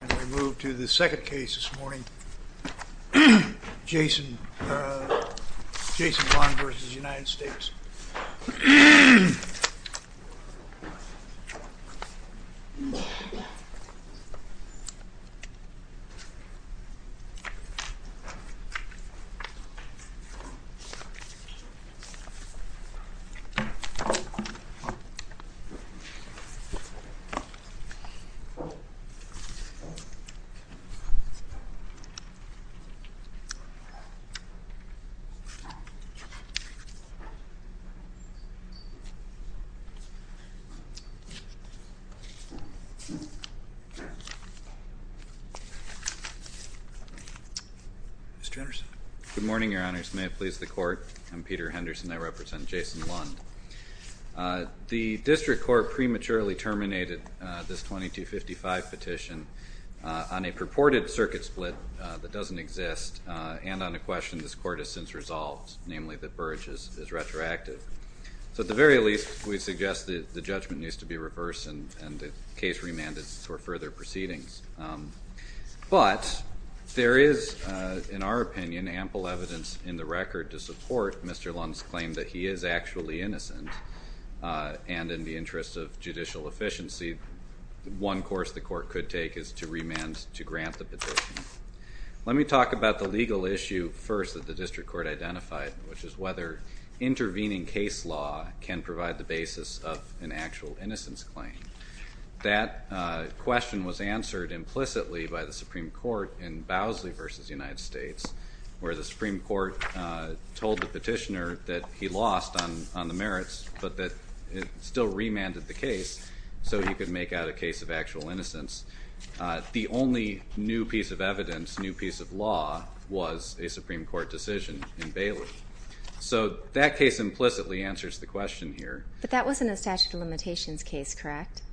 And we move to the second case this morning, Jason Lund v. United States. Mr. Henderson Good morning, Your Honors, may it please the Court. I'm Peter Henderson. I represent Jason Lund. The District Court prematurely terminated this 2255 petition on a purported circuit split that doesn't exist and on a question this Court has since resolved, namely that Burrage is retroactive. So at the very least, we suggest that the judgment needs to be reversed and the case remanded for further proceedings. But there is, in our opinion, ample evidence in the record to support Mr. Lund's claim that he is actually innocent, and in the interest of judicial efficiency, one course the Court could take is to remand to grant the petition. Let me talk about the legal issue first that the District Court identified, which is whether intervening case law can provide the basis of an actual innocence claim. That question was answered implicitly by the Supreme Court in Bowsley v. United States, where the Supreme Court told the petitioner that he lost on the merits, but that it still remanded the case so he could make out a case of actual innocence. The only new piece of evidence, new piece of law, was a Supreme Court decision in Bailey. So that case implicitly answers the question here. Ms. Lund But that wasn't a statute of limitations case, correct? Mr.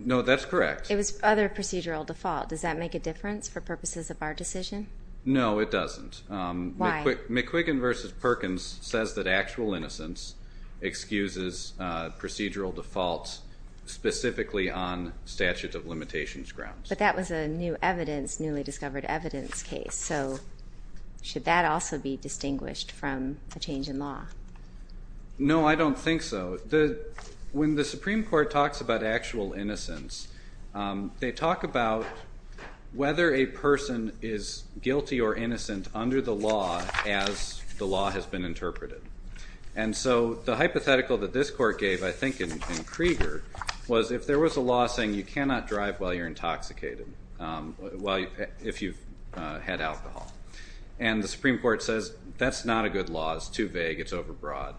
Henderson No, that's correct. Ms. Lund It was other procedural default. Does that make a difference for purposes of our decision? Mr. Henderson No, it doesn't. Ms. Lund Why? Mr. Henderson McQuiggin v. Perkins says that actual innocence excuses procedural defaults specifically on statute of limitations grounds. Ms. Lund But that was a new evidence, newly discovered evidence case, so should that also be distinguished from a change in law? Mr. Henderson No, I don't think so. When the Supreme Court talks about actual innocence, they talk about whether a person is guilty or innocent under the law as the law has been interpreted. And so the hypothetical that this court gave, I think in Krieger, was if there was a law saying you cannot drive while you're intoxicated, if you've had alcohol. And the Supreme Court says, that's not a good law, it's too vague, it's overbroad.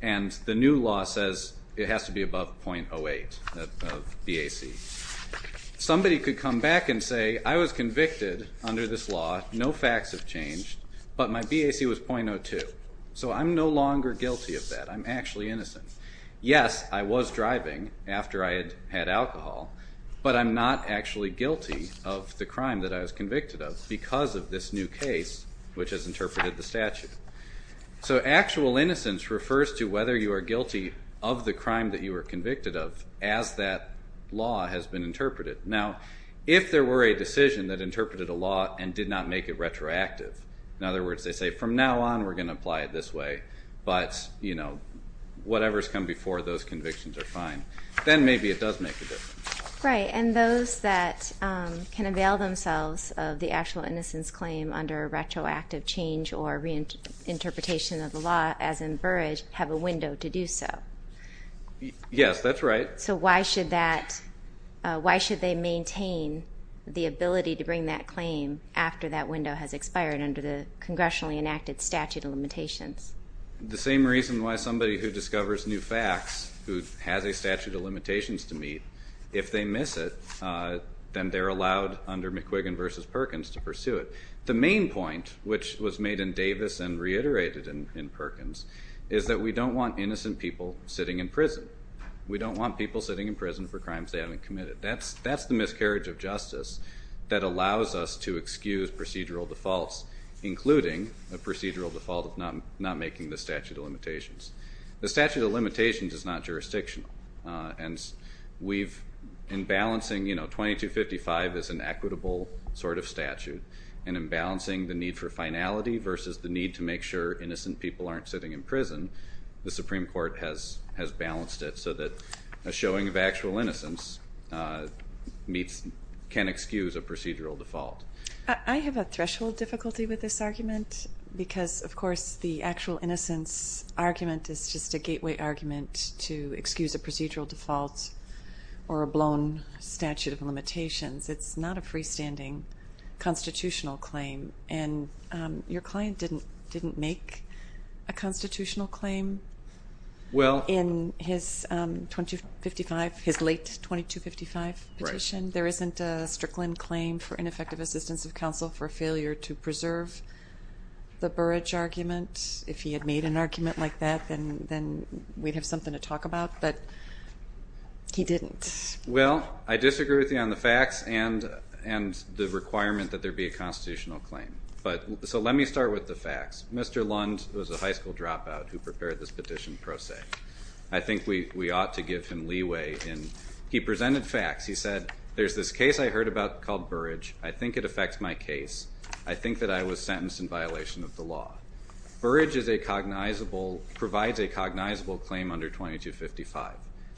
And the new law says it has to be above 0.08 of BAC. Somebody could come back and say, I was convicted under this law, no facts have changed, but my BAC was 0.02. So I'm no longer guilty of that, I'm actually innocent. Yes, I was driving after I had had alcohol, but I'm not actually guilty of the crime that I was convicted of because of this new case, which has interpreted the statute. So actual innocence refers to whether you are guilty of the crime that you were convicted of as that law has been interpreted. Now, if there were a decision that interpreted a law and did not make it retroactive, in other words, they say, from now on we're going to apply it this way, but whatever's come before those convictions are fine, then maybe it does make a difference. Ms. DeParle Right. And those that can avail themselves of the actual innocence claim under retroactive change or reinterpretation of the law, as in Burrage, have a window to do so. Mr. McQuiggan Yes, that's right. Ms. DeParle So why should that, why should they maintain the ability to bring that claim after that window has expired under the congressionally enacted statute of limitations? Mr. McQuiggan The same reason why somebody who discovers new facts, who has a statute of limitations to meet, if they miss it, then they're allowed under McQuiggan v. Perkins to pursue it. The main point, which was made in Davis and reiterated in Perkins, is that we don't want innocent people sitting in prison. We don't want people sitting in prison for crimes they haven't committed. That's the miscarriage of justice that allows us to excuse procedural defaults, including a procedural default of not making the statute of limitations. The statute of limitations is not jurisdictional. And we've, in balancing, you know, 2255 is an equitable sort of statute, and in balancing the need for finality versus the need to make sure innocent people aren't sitting in prison, the Supreme Court has balanced it so that a showing of actual innocence meets, can excuse a procedural default. Ms. DeParle I have a threshold difficulty with this argument because, of course, the actual innocence argument is just a gateway argument to excuse a procedural default or a blown statute of limitations. It's not a freestanding constitutional claim, and your client didn't make a constitutional claim in his 2255, his late 2255 petition. There isn't a Strickland claim for ineffective assistance of counsel for failure to preserve the Burrage argument. If he had made an argument like that, then we'd have something to talk about, but he didn't. Well, I disagree with you on the facts and the requirement that there be a constitutional claim. But, so let me start with the facts. Mr. Lund was a high school dropout who prepared this petition pro se. I think we ought to give him leeway in, he presented facts. He said, there's this case I heard about called Burrage. I think it affects my case. I think that I was sentenced in violation of the law. Burrage is a cognizable, provides a cognizable claim under 2255.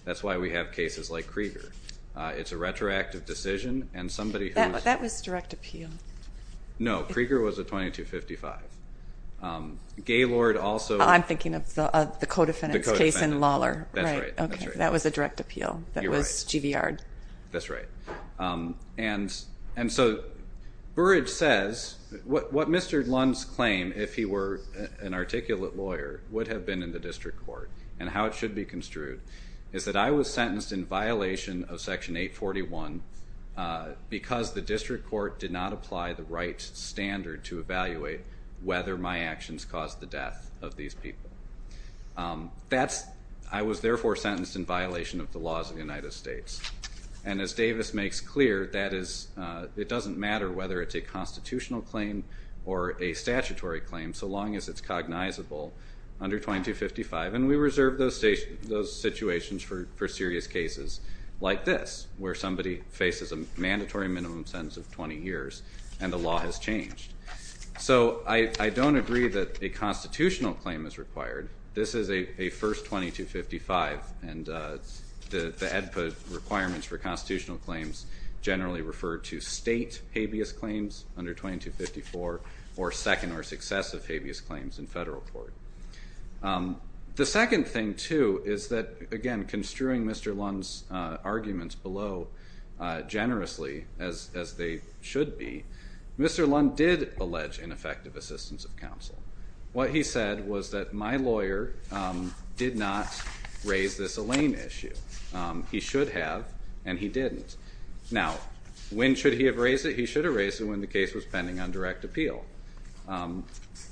That's why we have cases like Krieger. It's a retroactive decision, and somebody who's- That was direct appeal. No, Krieger was a 2255. Gaylord also- I'm thinking of the co-defendant's case in Lawler. That's right. Okay, that was a direct appeal. You're right. That was GVR. That's right. And so, Burrage says, what Mr. Lund's claim, if he were an articulate lawyer, would have been in the district court, and how it should be construed, is that I was sentenced in violation of section 841, because the district court did not apply the right standard to evaluate whether my actions caused the death of these people. I was therefore sentenced in violation of the laws of the United States. And as Davis makes clear, it doesn't matter whether it's a constitutional claim or a statutory claim, so long as it's cognizable under 2255. And we reserve those situations for serious cases like this, where somebody faces a mandatory minimum sentence of 20 years, and the law has changed. So I don't agree that a constitutional claim is required. This is a first 2255. And the EDPA requirements for constitutional claims generally refer to state habeas claims under 2254, or second or successive habeas claims in federal court. The second thing, too, is that, again, construing Mr. Lund's arguments below generously, as they should be, Mr. Lund did allege ineffective assistance of counsel. What he said was that my lawyer did not raise this Alain issue. He should have, and he didn't. Now, when should he have raised it? He should have raised it when the case was pending on direct appeal.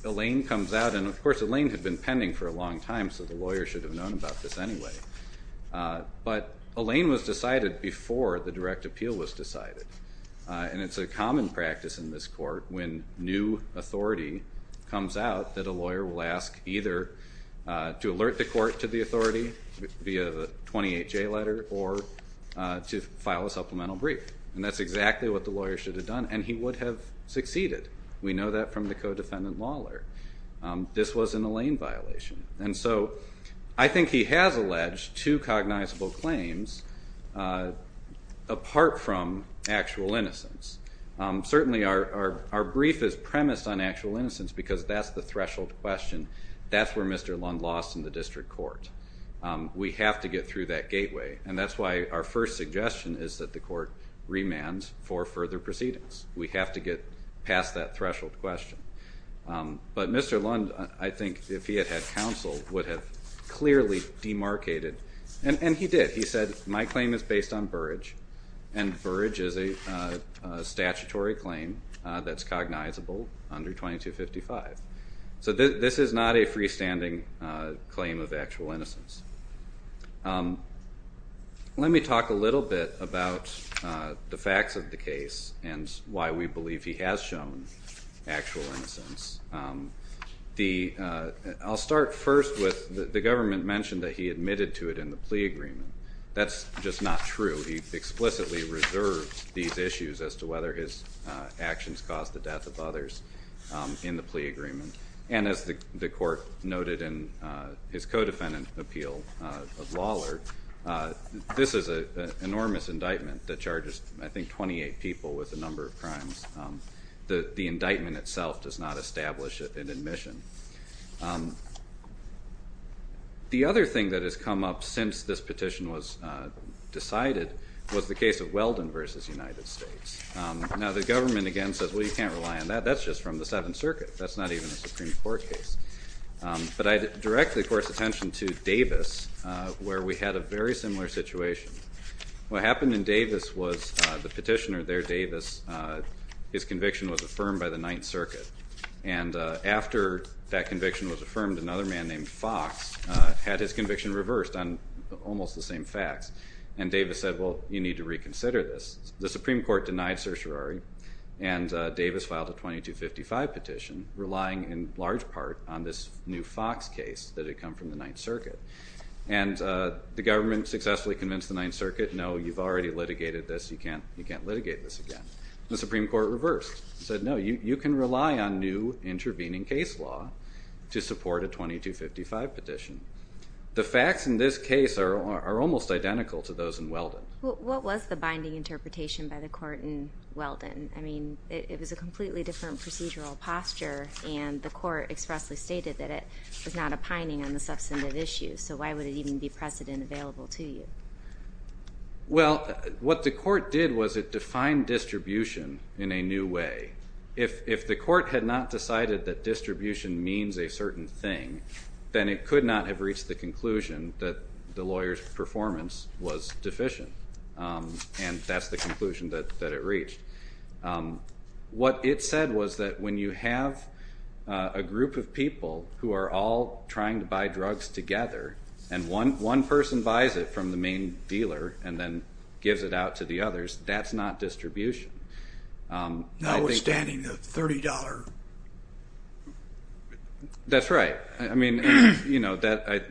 Alain comes out, and of course, Alain had been pending for a long time, so the lawyer should have known about this anyway. But Alain was decided before the direct appeal was decided. And it's a common practice in this court when new authority comes out that a lawyer will ask either to alert the court to the authority via the 28-J letter or to file a supplemental brief. And that's exactly what the lawyer should have done, and he would have succeeded. We know that from the co-defendant law lawyer. This was an Alain violation. And so I think he has alleged two cognizable claims apart from actual innocence. Certainly, our brief is premised on actual innocence because that's the threshold question. That's where Mr. Lund lost in the district court. We have to get through that gateway. And that's why our first suggestion is that the court remands for further proceedings. We have to get past that threshold question. But Mr. Lund, I think if he had had counsel, would have clearly demarcated. And he did. He said, my claim is based on Burrage. And Burrage is a statutory claim that's cognizable under 2255. So this is not a freestanding claim of actual innocence. Let me talk a little bit about the facts of the case and why we believe he has shown actual innocence. I'll start first with the government mentioned that he admitted to it in the plea agreement. That's just not true. He explicitly reserved these issues as to whether his actions caused the death of others in the plea agreement. And as the court noted in his co-defendant appeal of Lawler, this is an enormous indictment that charges, I think, 28 people with a number of crimes. The indictment itself does not establish an admission. The other thing that has come up since this petition was the case of Weldon versus United States. Now, the government again says, well, you can't rely on that. That's just from the Seventh Circuit. That's not even a Supreme Court case. But I'd directly force attention to Davis, where we had a very similar situation. What happened in Davis was the petitioner there, Davis, his conviction was affirmed by the Ninth Circuit. And after that conviction was affirmed, another man named Fox had his conviction reversed on almost the same facts. And Davis said, well, you need to reconsider this. The Supreme Court denied certiorari. And Davis filed a 2255 petition, relying in large part on this new Fox case that had come from the Ninth Circuit. And the government successfully convinced the Ninth Circuit, no, you've already litigated this. You can't litigate this again. The Supreme Court reversed. Said, no, you can rely on new intervening case law to support a 2255 petition. The facts in this case are almost identical to those in Weldon. What was the binding interpretation by the court in Weldon? I mean, it was a completely different procedural posture. And the court expressly stated that it was not a pining on the substantive issues. So why would it even be precedent available to you? Well, what the court did was it defined distribution in a new way. If the court had not decided that distribution means a certain thing, then it could not have reached the conclusion that the lawyer's performance was deficient. And that's the conclusion that it reached. What it said was that when you have a group of people who are all trying to buy drugs together, and one person buys it from the main dealer and then gives it out to the others, that's not distribution. Notwithstanding the $30. That's right. I mean,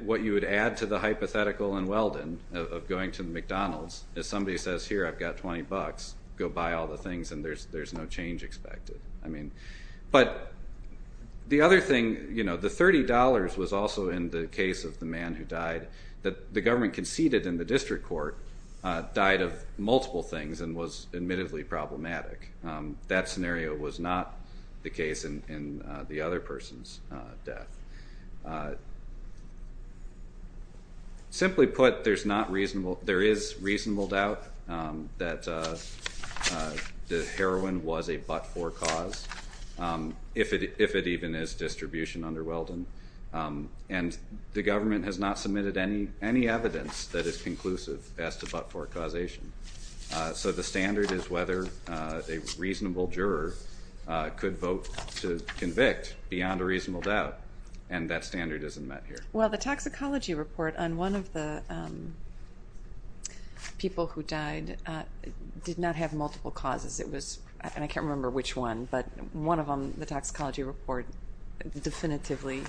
what you would add to the hypothetical in Weldon of going to McDonald's, if somebody says, here, I've got $20, go buy all the things, and there's no change expected. But the other thing, the $30 was also in the case of the man who died, that the government conceded in the district court died of multiple things and was admittedly problematic. That scenario was not the case in the other person's death. Simply put, there is reasonable doubt that the heroin was a but-for cause, if it even is distribution under Weldon. And the government has not submitted any evidence that is conclusive as to but-for causation. So the standard is whether a reasonable juror could vote to convict beyond a reasonable doubt, and that standard isn't met here. Well, the toxicology report on one of the people who died did not have multiple causes. It was, and I can't remember which one, but one of them, the toxicology report, definitively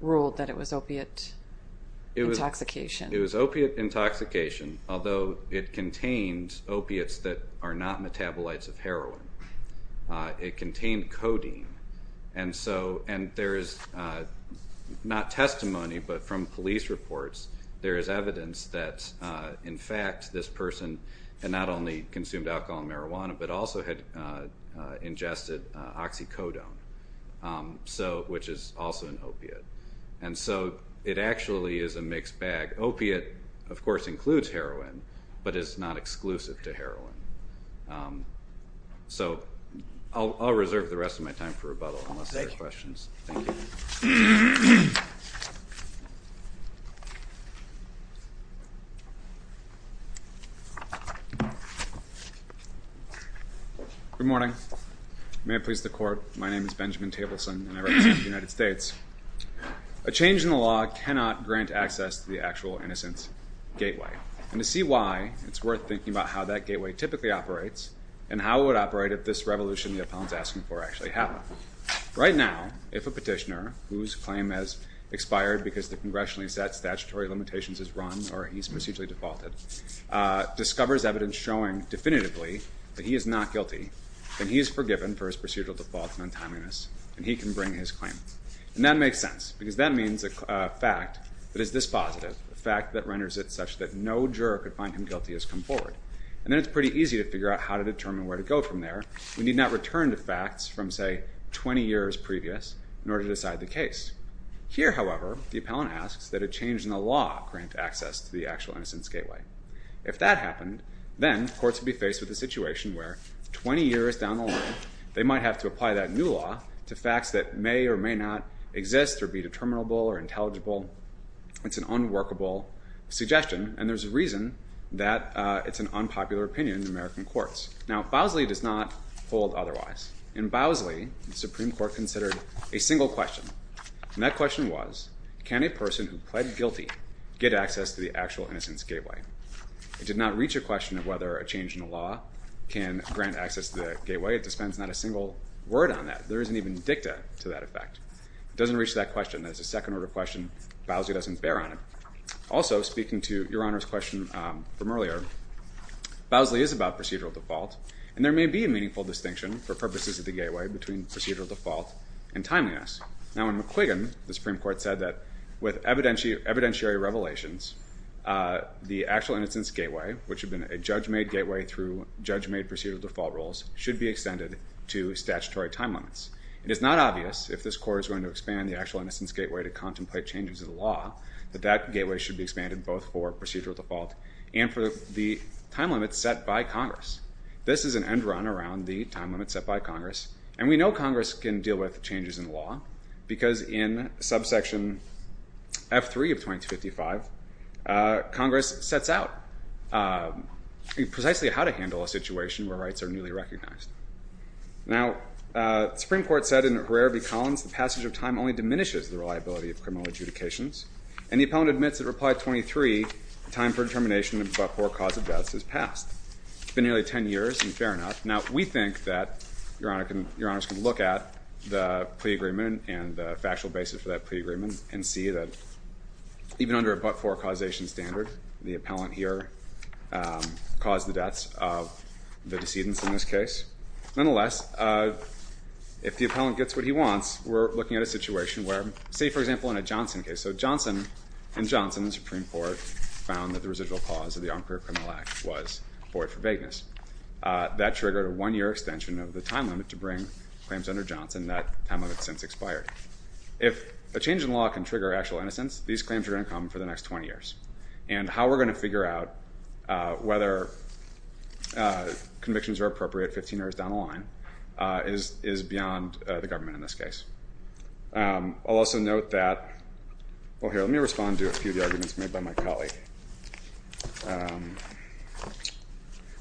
ruled that it was opiate intoxication. It was opiate intoxication, although it contained opiates that are not metabolites of heroin. It contained codeine. And there is not testimony, but from police reports, there is evidence that, in fact, this person had not only consumed alcohol and marijuana, but also had ingested oxycodone, which is also an opiate. And so it actually is a mixed bag. Opiate, of course, includes heroin, but it's not exclusive to heroin. So I'll reserve the rest of my time for rebuttal unless there are questions. Thank you. Good morning. May it please the court, my name is Benjamin Tableson, and I represent the United States. A change in the law cannot grant access to the actual innocence gateway. And to see why, it's worth thinking about how that gateway typically operates and how it would operate if this revolution the appellant's asking for actually happened. Right now, if a petitioner whose claim has expired because the congressionally set statutory limitations is run or he's procedurally defaulted discovers evidence showing definitively that he is not guilty, then he is forgiven for his procedural default and untimeliness, and he can bring his claim. And that makes sense, because that means a fact that is this positive, a fact that renders it such that no juror could find him guilty as come forward. And then it's pretty easy to figure out how to determine where to go from there. We need not return to facts from, say, 20 years previous in order to decide the case. Here, however, the appellant asks that a change in the law grant access to the actual innocence gateway. If that happened, then courts would be faced with a situation where 20 years down the line, they might have to apply that new law to facts that may or may not exist or be determinable or intelligible. It's an unworkable suggestion, and there's a reason that it's an unpopular opinion in American courts. Now, Bowsley does not hold otherwise. In Bowsley, the Supreme Court considered a single question. And that question was, can a person who pled guilty get access to the actual innocence gateway? It did not reach a question of whether a change in the law can grant access to the gateway. It dispenses not a single word on that. There isn't even dicta to that effect. It doesn't reach that question. It's a second order question. Bowsley doesn't bear on it. Also, speaking to Your Honor's question from earlier, Bowsley is about procedural default. And there may be a meaningful distinction, for purposes of the gateway, between procedural default and timeliness. Now, in McQuiggan, the Supreme Court said that with evidentiary revelations, the actual innocence gateway, which had been a judge-made gateway through judge-made procedural default rules, should be extended to statutory time limits. It is not obvious if this court is going to expand the actual innocence gateway to contemplate changes in the law, that that gateway should be expanded both for procedural default and for the time limits set by Congress. This is an end run around the time limits set by Congress. And we know Congress can deal with changes in the law, because in subsection F3 of 2255, Congress sets out precisely how to handle a situation where rights are newly recognized. Now, the Supreme Court said in Herrera v. Collins, the passage of time only diminishes the reliability of criminal adjudications. And the appellant admits that reply 23, time for determination of but-for cause of deaths, has passed. It's been nearly 10 years, and fair enough. Now, we think that Your Honors can look at the pre-agreement and the factual basis for that pre-agreement, and see that even under a but-for causation standard, the appellant here caused the deaths of the decedents, in this case. Nonetheless, if the appellant gets what he wants, we're looking at a situation where, say, for example, in a Johnson case. So Johnson and Johnson, the Supreme Court, found that the residual cause of the Armed Career Criminal Act was void for vagueness. That triggered a one-year extension of the time limit to bring claims under Johnson. That time limit has since expired. If a change in law can trigger actual innocence, these claims are going to come for the next 20 years. And how we're going to figure out whether convictions are appropriate 15 years down the line is beyond the government, in this case. I'll also note that, well, here, let me respond to a few of the arguments made by my colleague.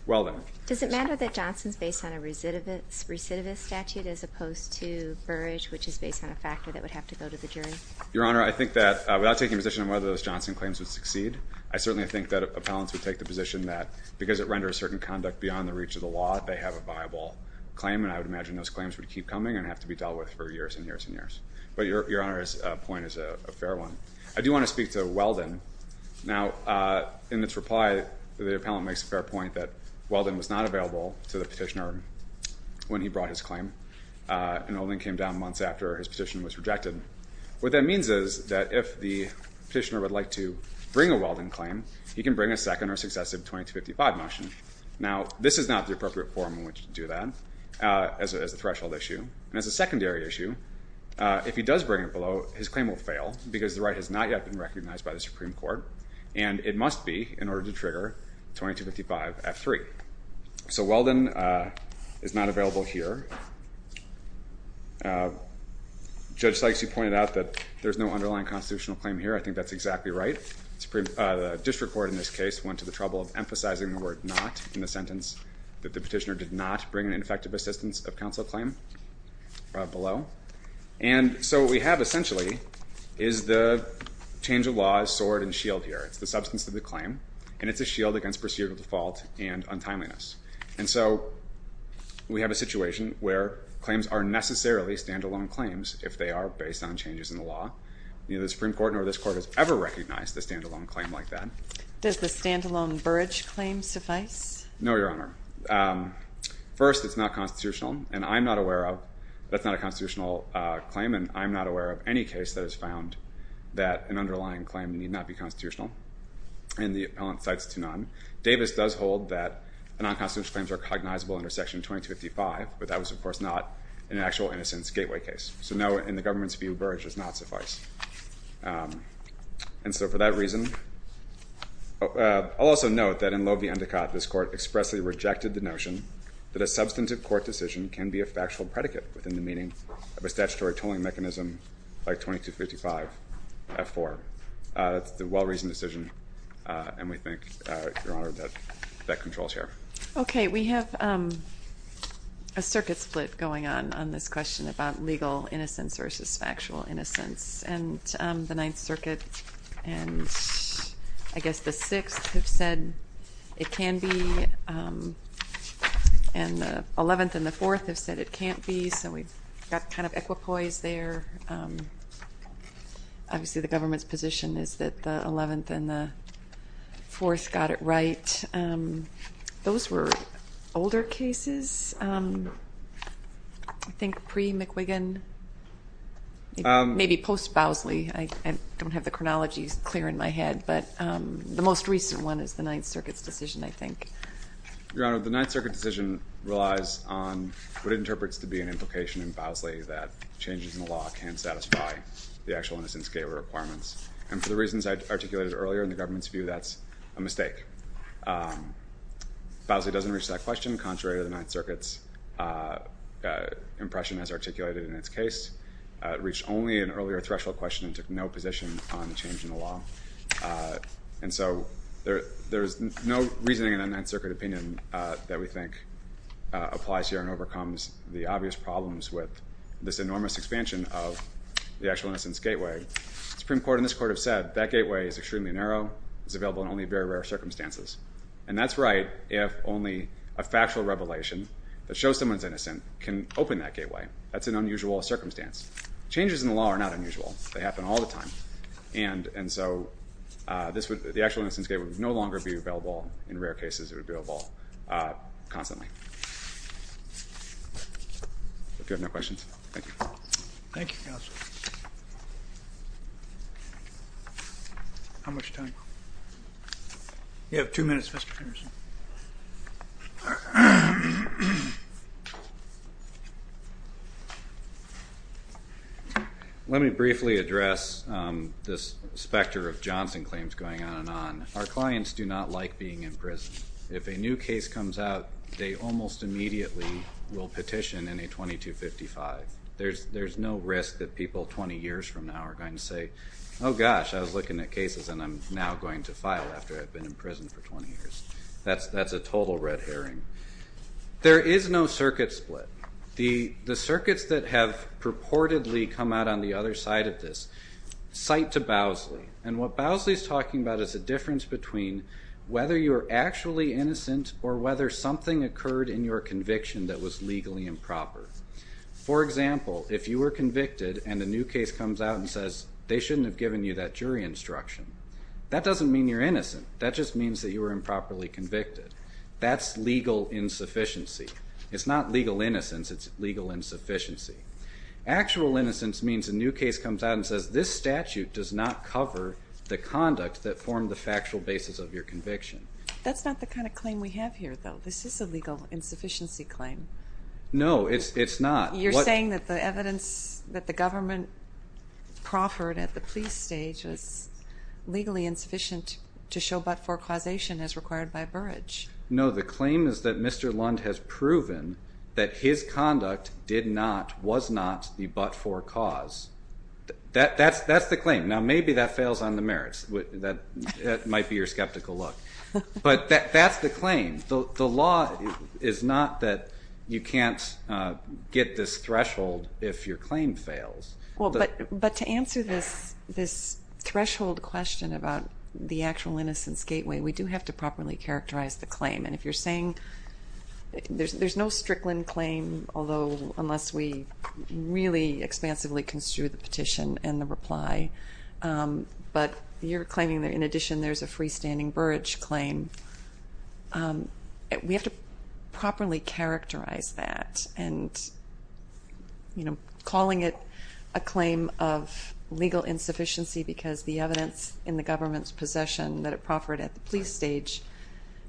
Well, then. Does it matter that Johnson's based on a recidivist statute, as opposed to Burrage, which is based on a factor that would have to go to the jury? Your Honor, I think that, without taking position on whether those Johnson claims would succeed, I certainly think that appellants would take the position that, because it renders certain conduct beyond the reach of the law, they have a viable claim. And I would imagine those claims would keep coming and have to be dealt with for years and years and years. But Your Honor's point is a fair one. I do want to speak to Weldon. Now, in this reply, the appellant makes a fair point that Weldon was not available to the petitioner when he brought his claim, and only came down months after his petition was rejected. What that means is that, if the petitioner would like to bring a Weldon claim, he can bring a second or successive 2255 motion. Now, this is not the appropriate form in which to do that, as a threshold issue. And as a secondary issue, if he does bring it below, his claim will fail, because the right has not yet been recognized by the Supreme Court. And it must be, in order to trigger 2255-F3. So Weldon is not available here. Judge Sykes, you pointed out that there's no underlying constitutional claim here. I think that's exactly right. The district court, in this case, went to the trouble of emphasizing the word not in the sentence, that the petitioner did not bring an effective assistance of counsel claim below. And so what we have, essentially, is the change of law is sword and shield here. It's the substance of the claim, and it's a shield against procedural default and untimeliness. And so we have a situation where claims are necessarily standalone claims, if they are based on changes in the law. Neither the Supreme Court nor this court has ever recognized a standalone claim like that. Does the standalone Burrage claim suffice? No, Your Honor. First, it's not constitutional. And I'm not aware of. That's not a constitutional claim. And I'm not aware of any case that has found that an underlying claim need not be constitutional. And the appellant cites to none. Davis does hold that non-constitutional claims are cognizable under Section 2255, but that was, of course, not an actual innocence gateway case. So no, in the government's view, Burrage does not suffice. And so for that reason, I'll also note that in Loewe v. Endicott, this court expressly rejected the notion that a substantive court decision can be a factual predicate within the meaning of a statutory tolling mechanism like 2255-F4. It's a well-reasoned decision, and we think, Your Honor, that that controls here. OK, we have a circuit split going on on this question about legal innocence versus factual innocence. The Ninth Circuit and, I guess, the Sixth have said it can be, and the Eleventh and the Fourth have said it can't be. So we've got kind of equipoise there. Obviously, the government's position is that the Eleventh and the Fourth got it right. Those were older cases, I think, pre-McWiggin, maybe post-Bowsley. I don't have the chronologies clear in my head, but the most recent one is the Ninth Circuit's decision, I think. Your Honor, the Ninth Circuit decision relies on what it interprets to be an implication in Bowsley that changes in the law can satisfy the actual innocence gateway requirements. And for the reasons I articulated earlier in the government's view, that's a mistake. Bowsley doesn't reach that question. Contrary to the Ninth Circuit's impression as articulated in its case, it reached only an earlier threshold question and took no position on the change in the law. And so there is no reasoning in the Ninth Circuit opinion that we think applies here and overcomes the obvious problems with this enormous expansion of the actual innocence gateway. The Supreme Court and this Court have said, that gateway is extremely narrow. It's available in only very rare circumstances. And that's right if only a factual revelation that that's an unusual circumstance. Changes in the law are not unusual. They happen all the time. And so the actual innocence gateway would no longer be available. In rare cases, it would be available constantly. If you have no questions, thank you. Thank you, counsel. How much time? You have two minutes, Mr. Anderson. Thank you. Let me briefly address this specter of Johnson claims going on and on. Our clients do not like being in prison. If a new case comes out, they almost immediately will petition in a 2255. There's no risk that people 20 years from now are going to say, oh gosh, I was looking at cases and I'm now going to file after I've been in prison for 20 years. That's a total red herring. There is no circuit split. The circuits that have purportedly come out on the other side of this cite to Bowsley. And what Bowsley is talking about is a difference between whether you're actually innocent or whether something occurred in your conviction that was legally improper. For example, if you were convicted and a new case comes out and says they shouldn't have given you that jury instruction, that doesn't mean you're innocent. That just means that you were improperly convicted. That's legal insufficiency. It's not legal innocence, it's legal insufficiency. Actual innocence means a new case comes out and says, this statute does not cover the conduct that formed the factual basis of your conviction. That's not the kind of claim we have here, though. This is a legal insufficiency claim. No, it's not. You're saying that the evidence that the government proffered at the police stage was legally insufficient to show but for causation as required by Burrage. No, the claim is that Mr. Lund has proven that his conduct was not the but-for cause. That's the claim. Now, maybe that fails on the merits. That might be your skeptical look. But that's the claim. The law is not that you can't get this threshold if your claim fails. But to answer this threshold question about the actual innocence gateway, we do have to properly characterize the claim. And if you're saying there's no Strickland claim, although unless we really expansively construe the petition and the reply, but you're claiming that, in addition, there's a freestanding Burrage claim, we have to properly characterize that. And calling it a claim of legal insufficiency because the evidence in the government's possession that it proffered at the police stage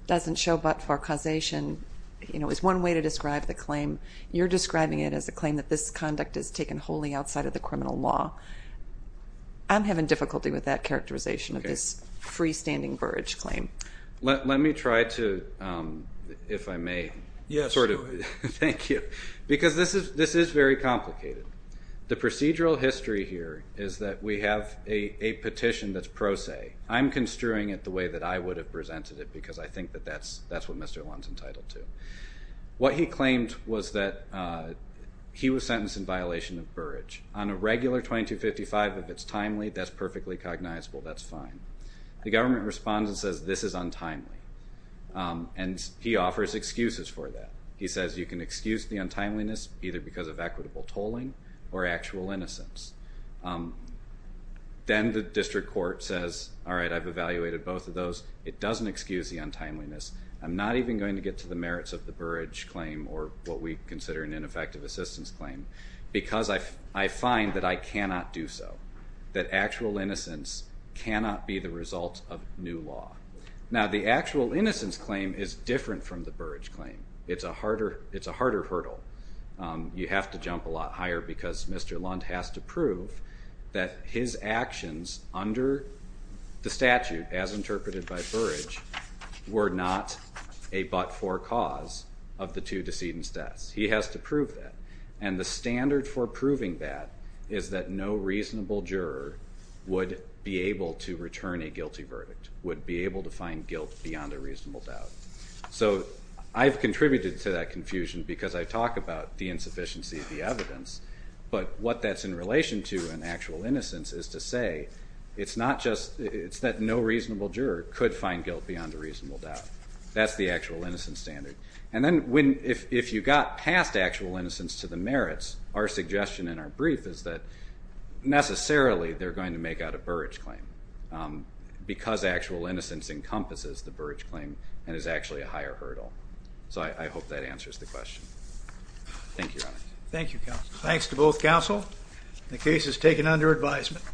doesn't show but-for causation is one way to describe the claim. You're describing it as a claim that this conduct is taken wholly outside of the criminal law. I'm having difficulty with that characterization of this freestanding Burrage claim. Let me try to, if I may, sort of thank you. Because this is very complicated. The procedural history here is that we have a petition that's pro se. I'm construing it the way that I would have presented it because I think that that's what Mr. Lund's entitled to. What he claimed was that he was sentenced in violation of Burrage. On a regular 2255, if it's timely, that's perfectly cognizable. That's fine. The government responds and says, this is untimely. And he offers excuses for that. He says, you can excuse the untimeliness, either because of equitable tolling or actual innocence. Then the district court says, all right, I've evaluated both of those. It doesn't excuse the untimeliness. I'm not even going to get to the merits of the Burrage claim or what we consider an ineffective assistance claim because I find that I cannot do so, that actual innocence cannot be the result of new law. Now, the actual innocence claim is different from the Burrage claim. It's a harder hurdle. You have to jump a lot higher because Mr. Lund has to prove that his actions under the statute, as interpreted by Burrage, were not a but-for cause of the two decedent's deaths. He has to prove that. And the standard for proving that is that no reasonable juror would be able to return a guilty verdict, would be able to find guilt beyond a reasonable doubt. So I've contributed to that confusion because I talk about the insufficiency of the evidence. But what that's in relation to in actual innocence is to say it's that no reasonable juror could find guilt beyond a reasonable doubt. That's the actual innocence standard. And then if you got past actual innocence to the merits, our suggestion in our brief is that necessarily they're going to make out a Burrage claim because actual innocence encompasses the Burrage claim and is actually So I hope that answers the question. Thank you, Your Honor. Thank you, Counsel. Thanks to both counsel. The case is taken under advisement.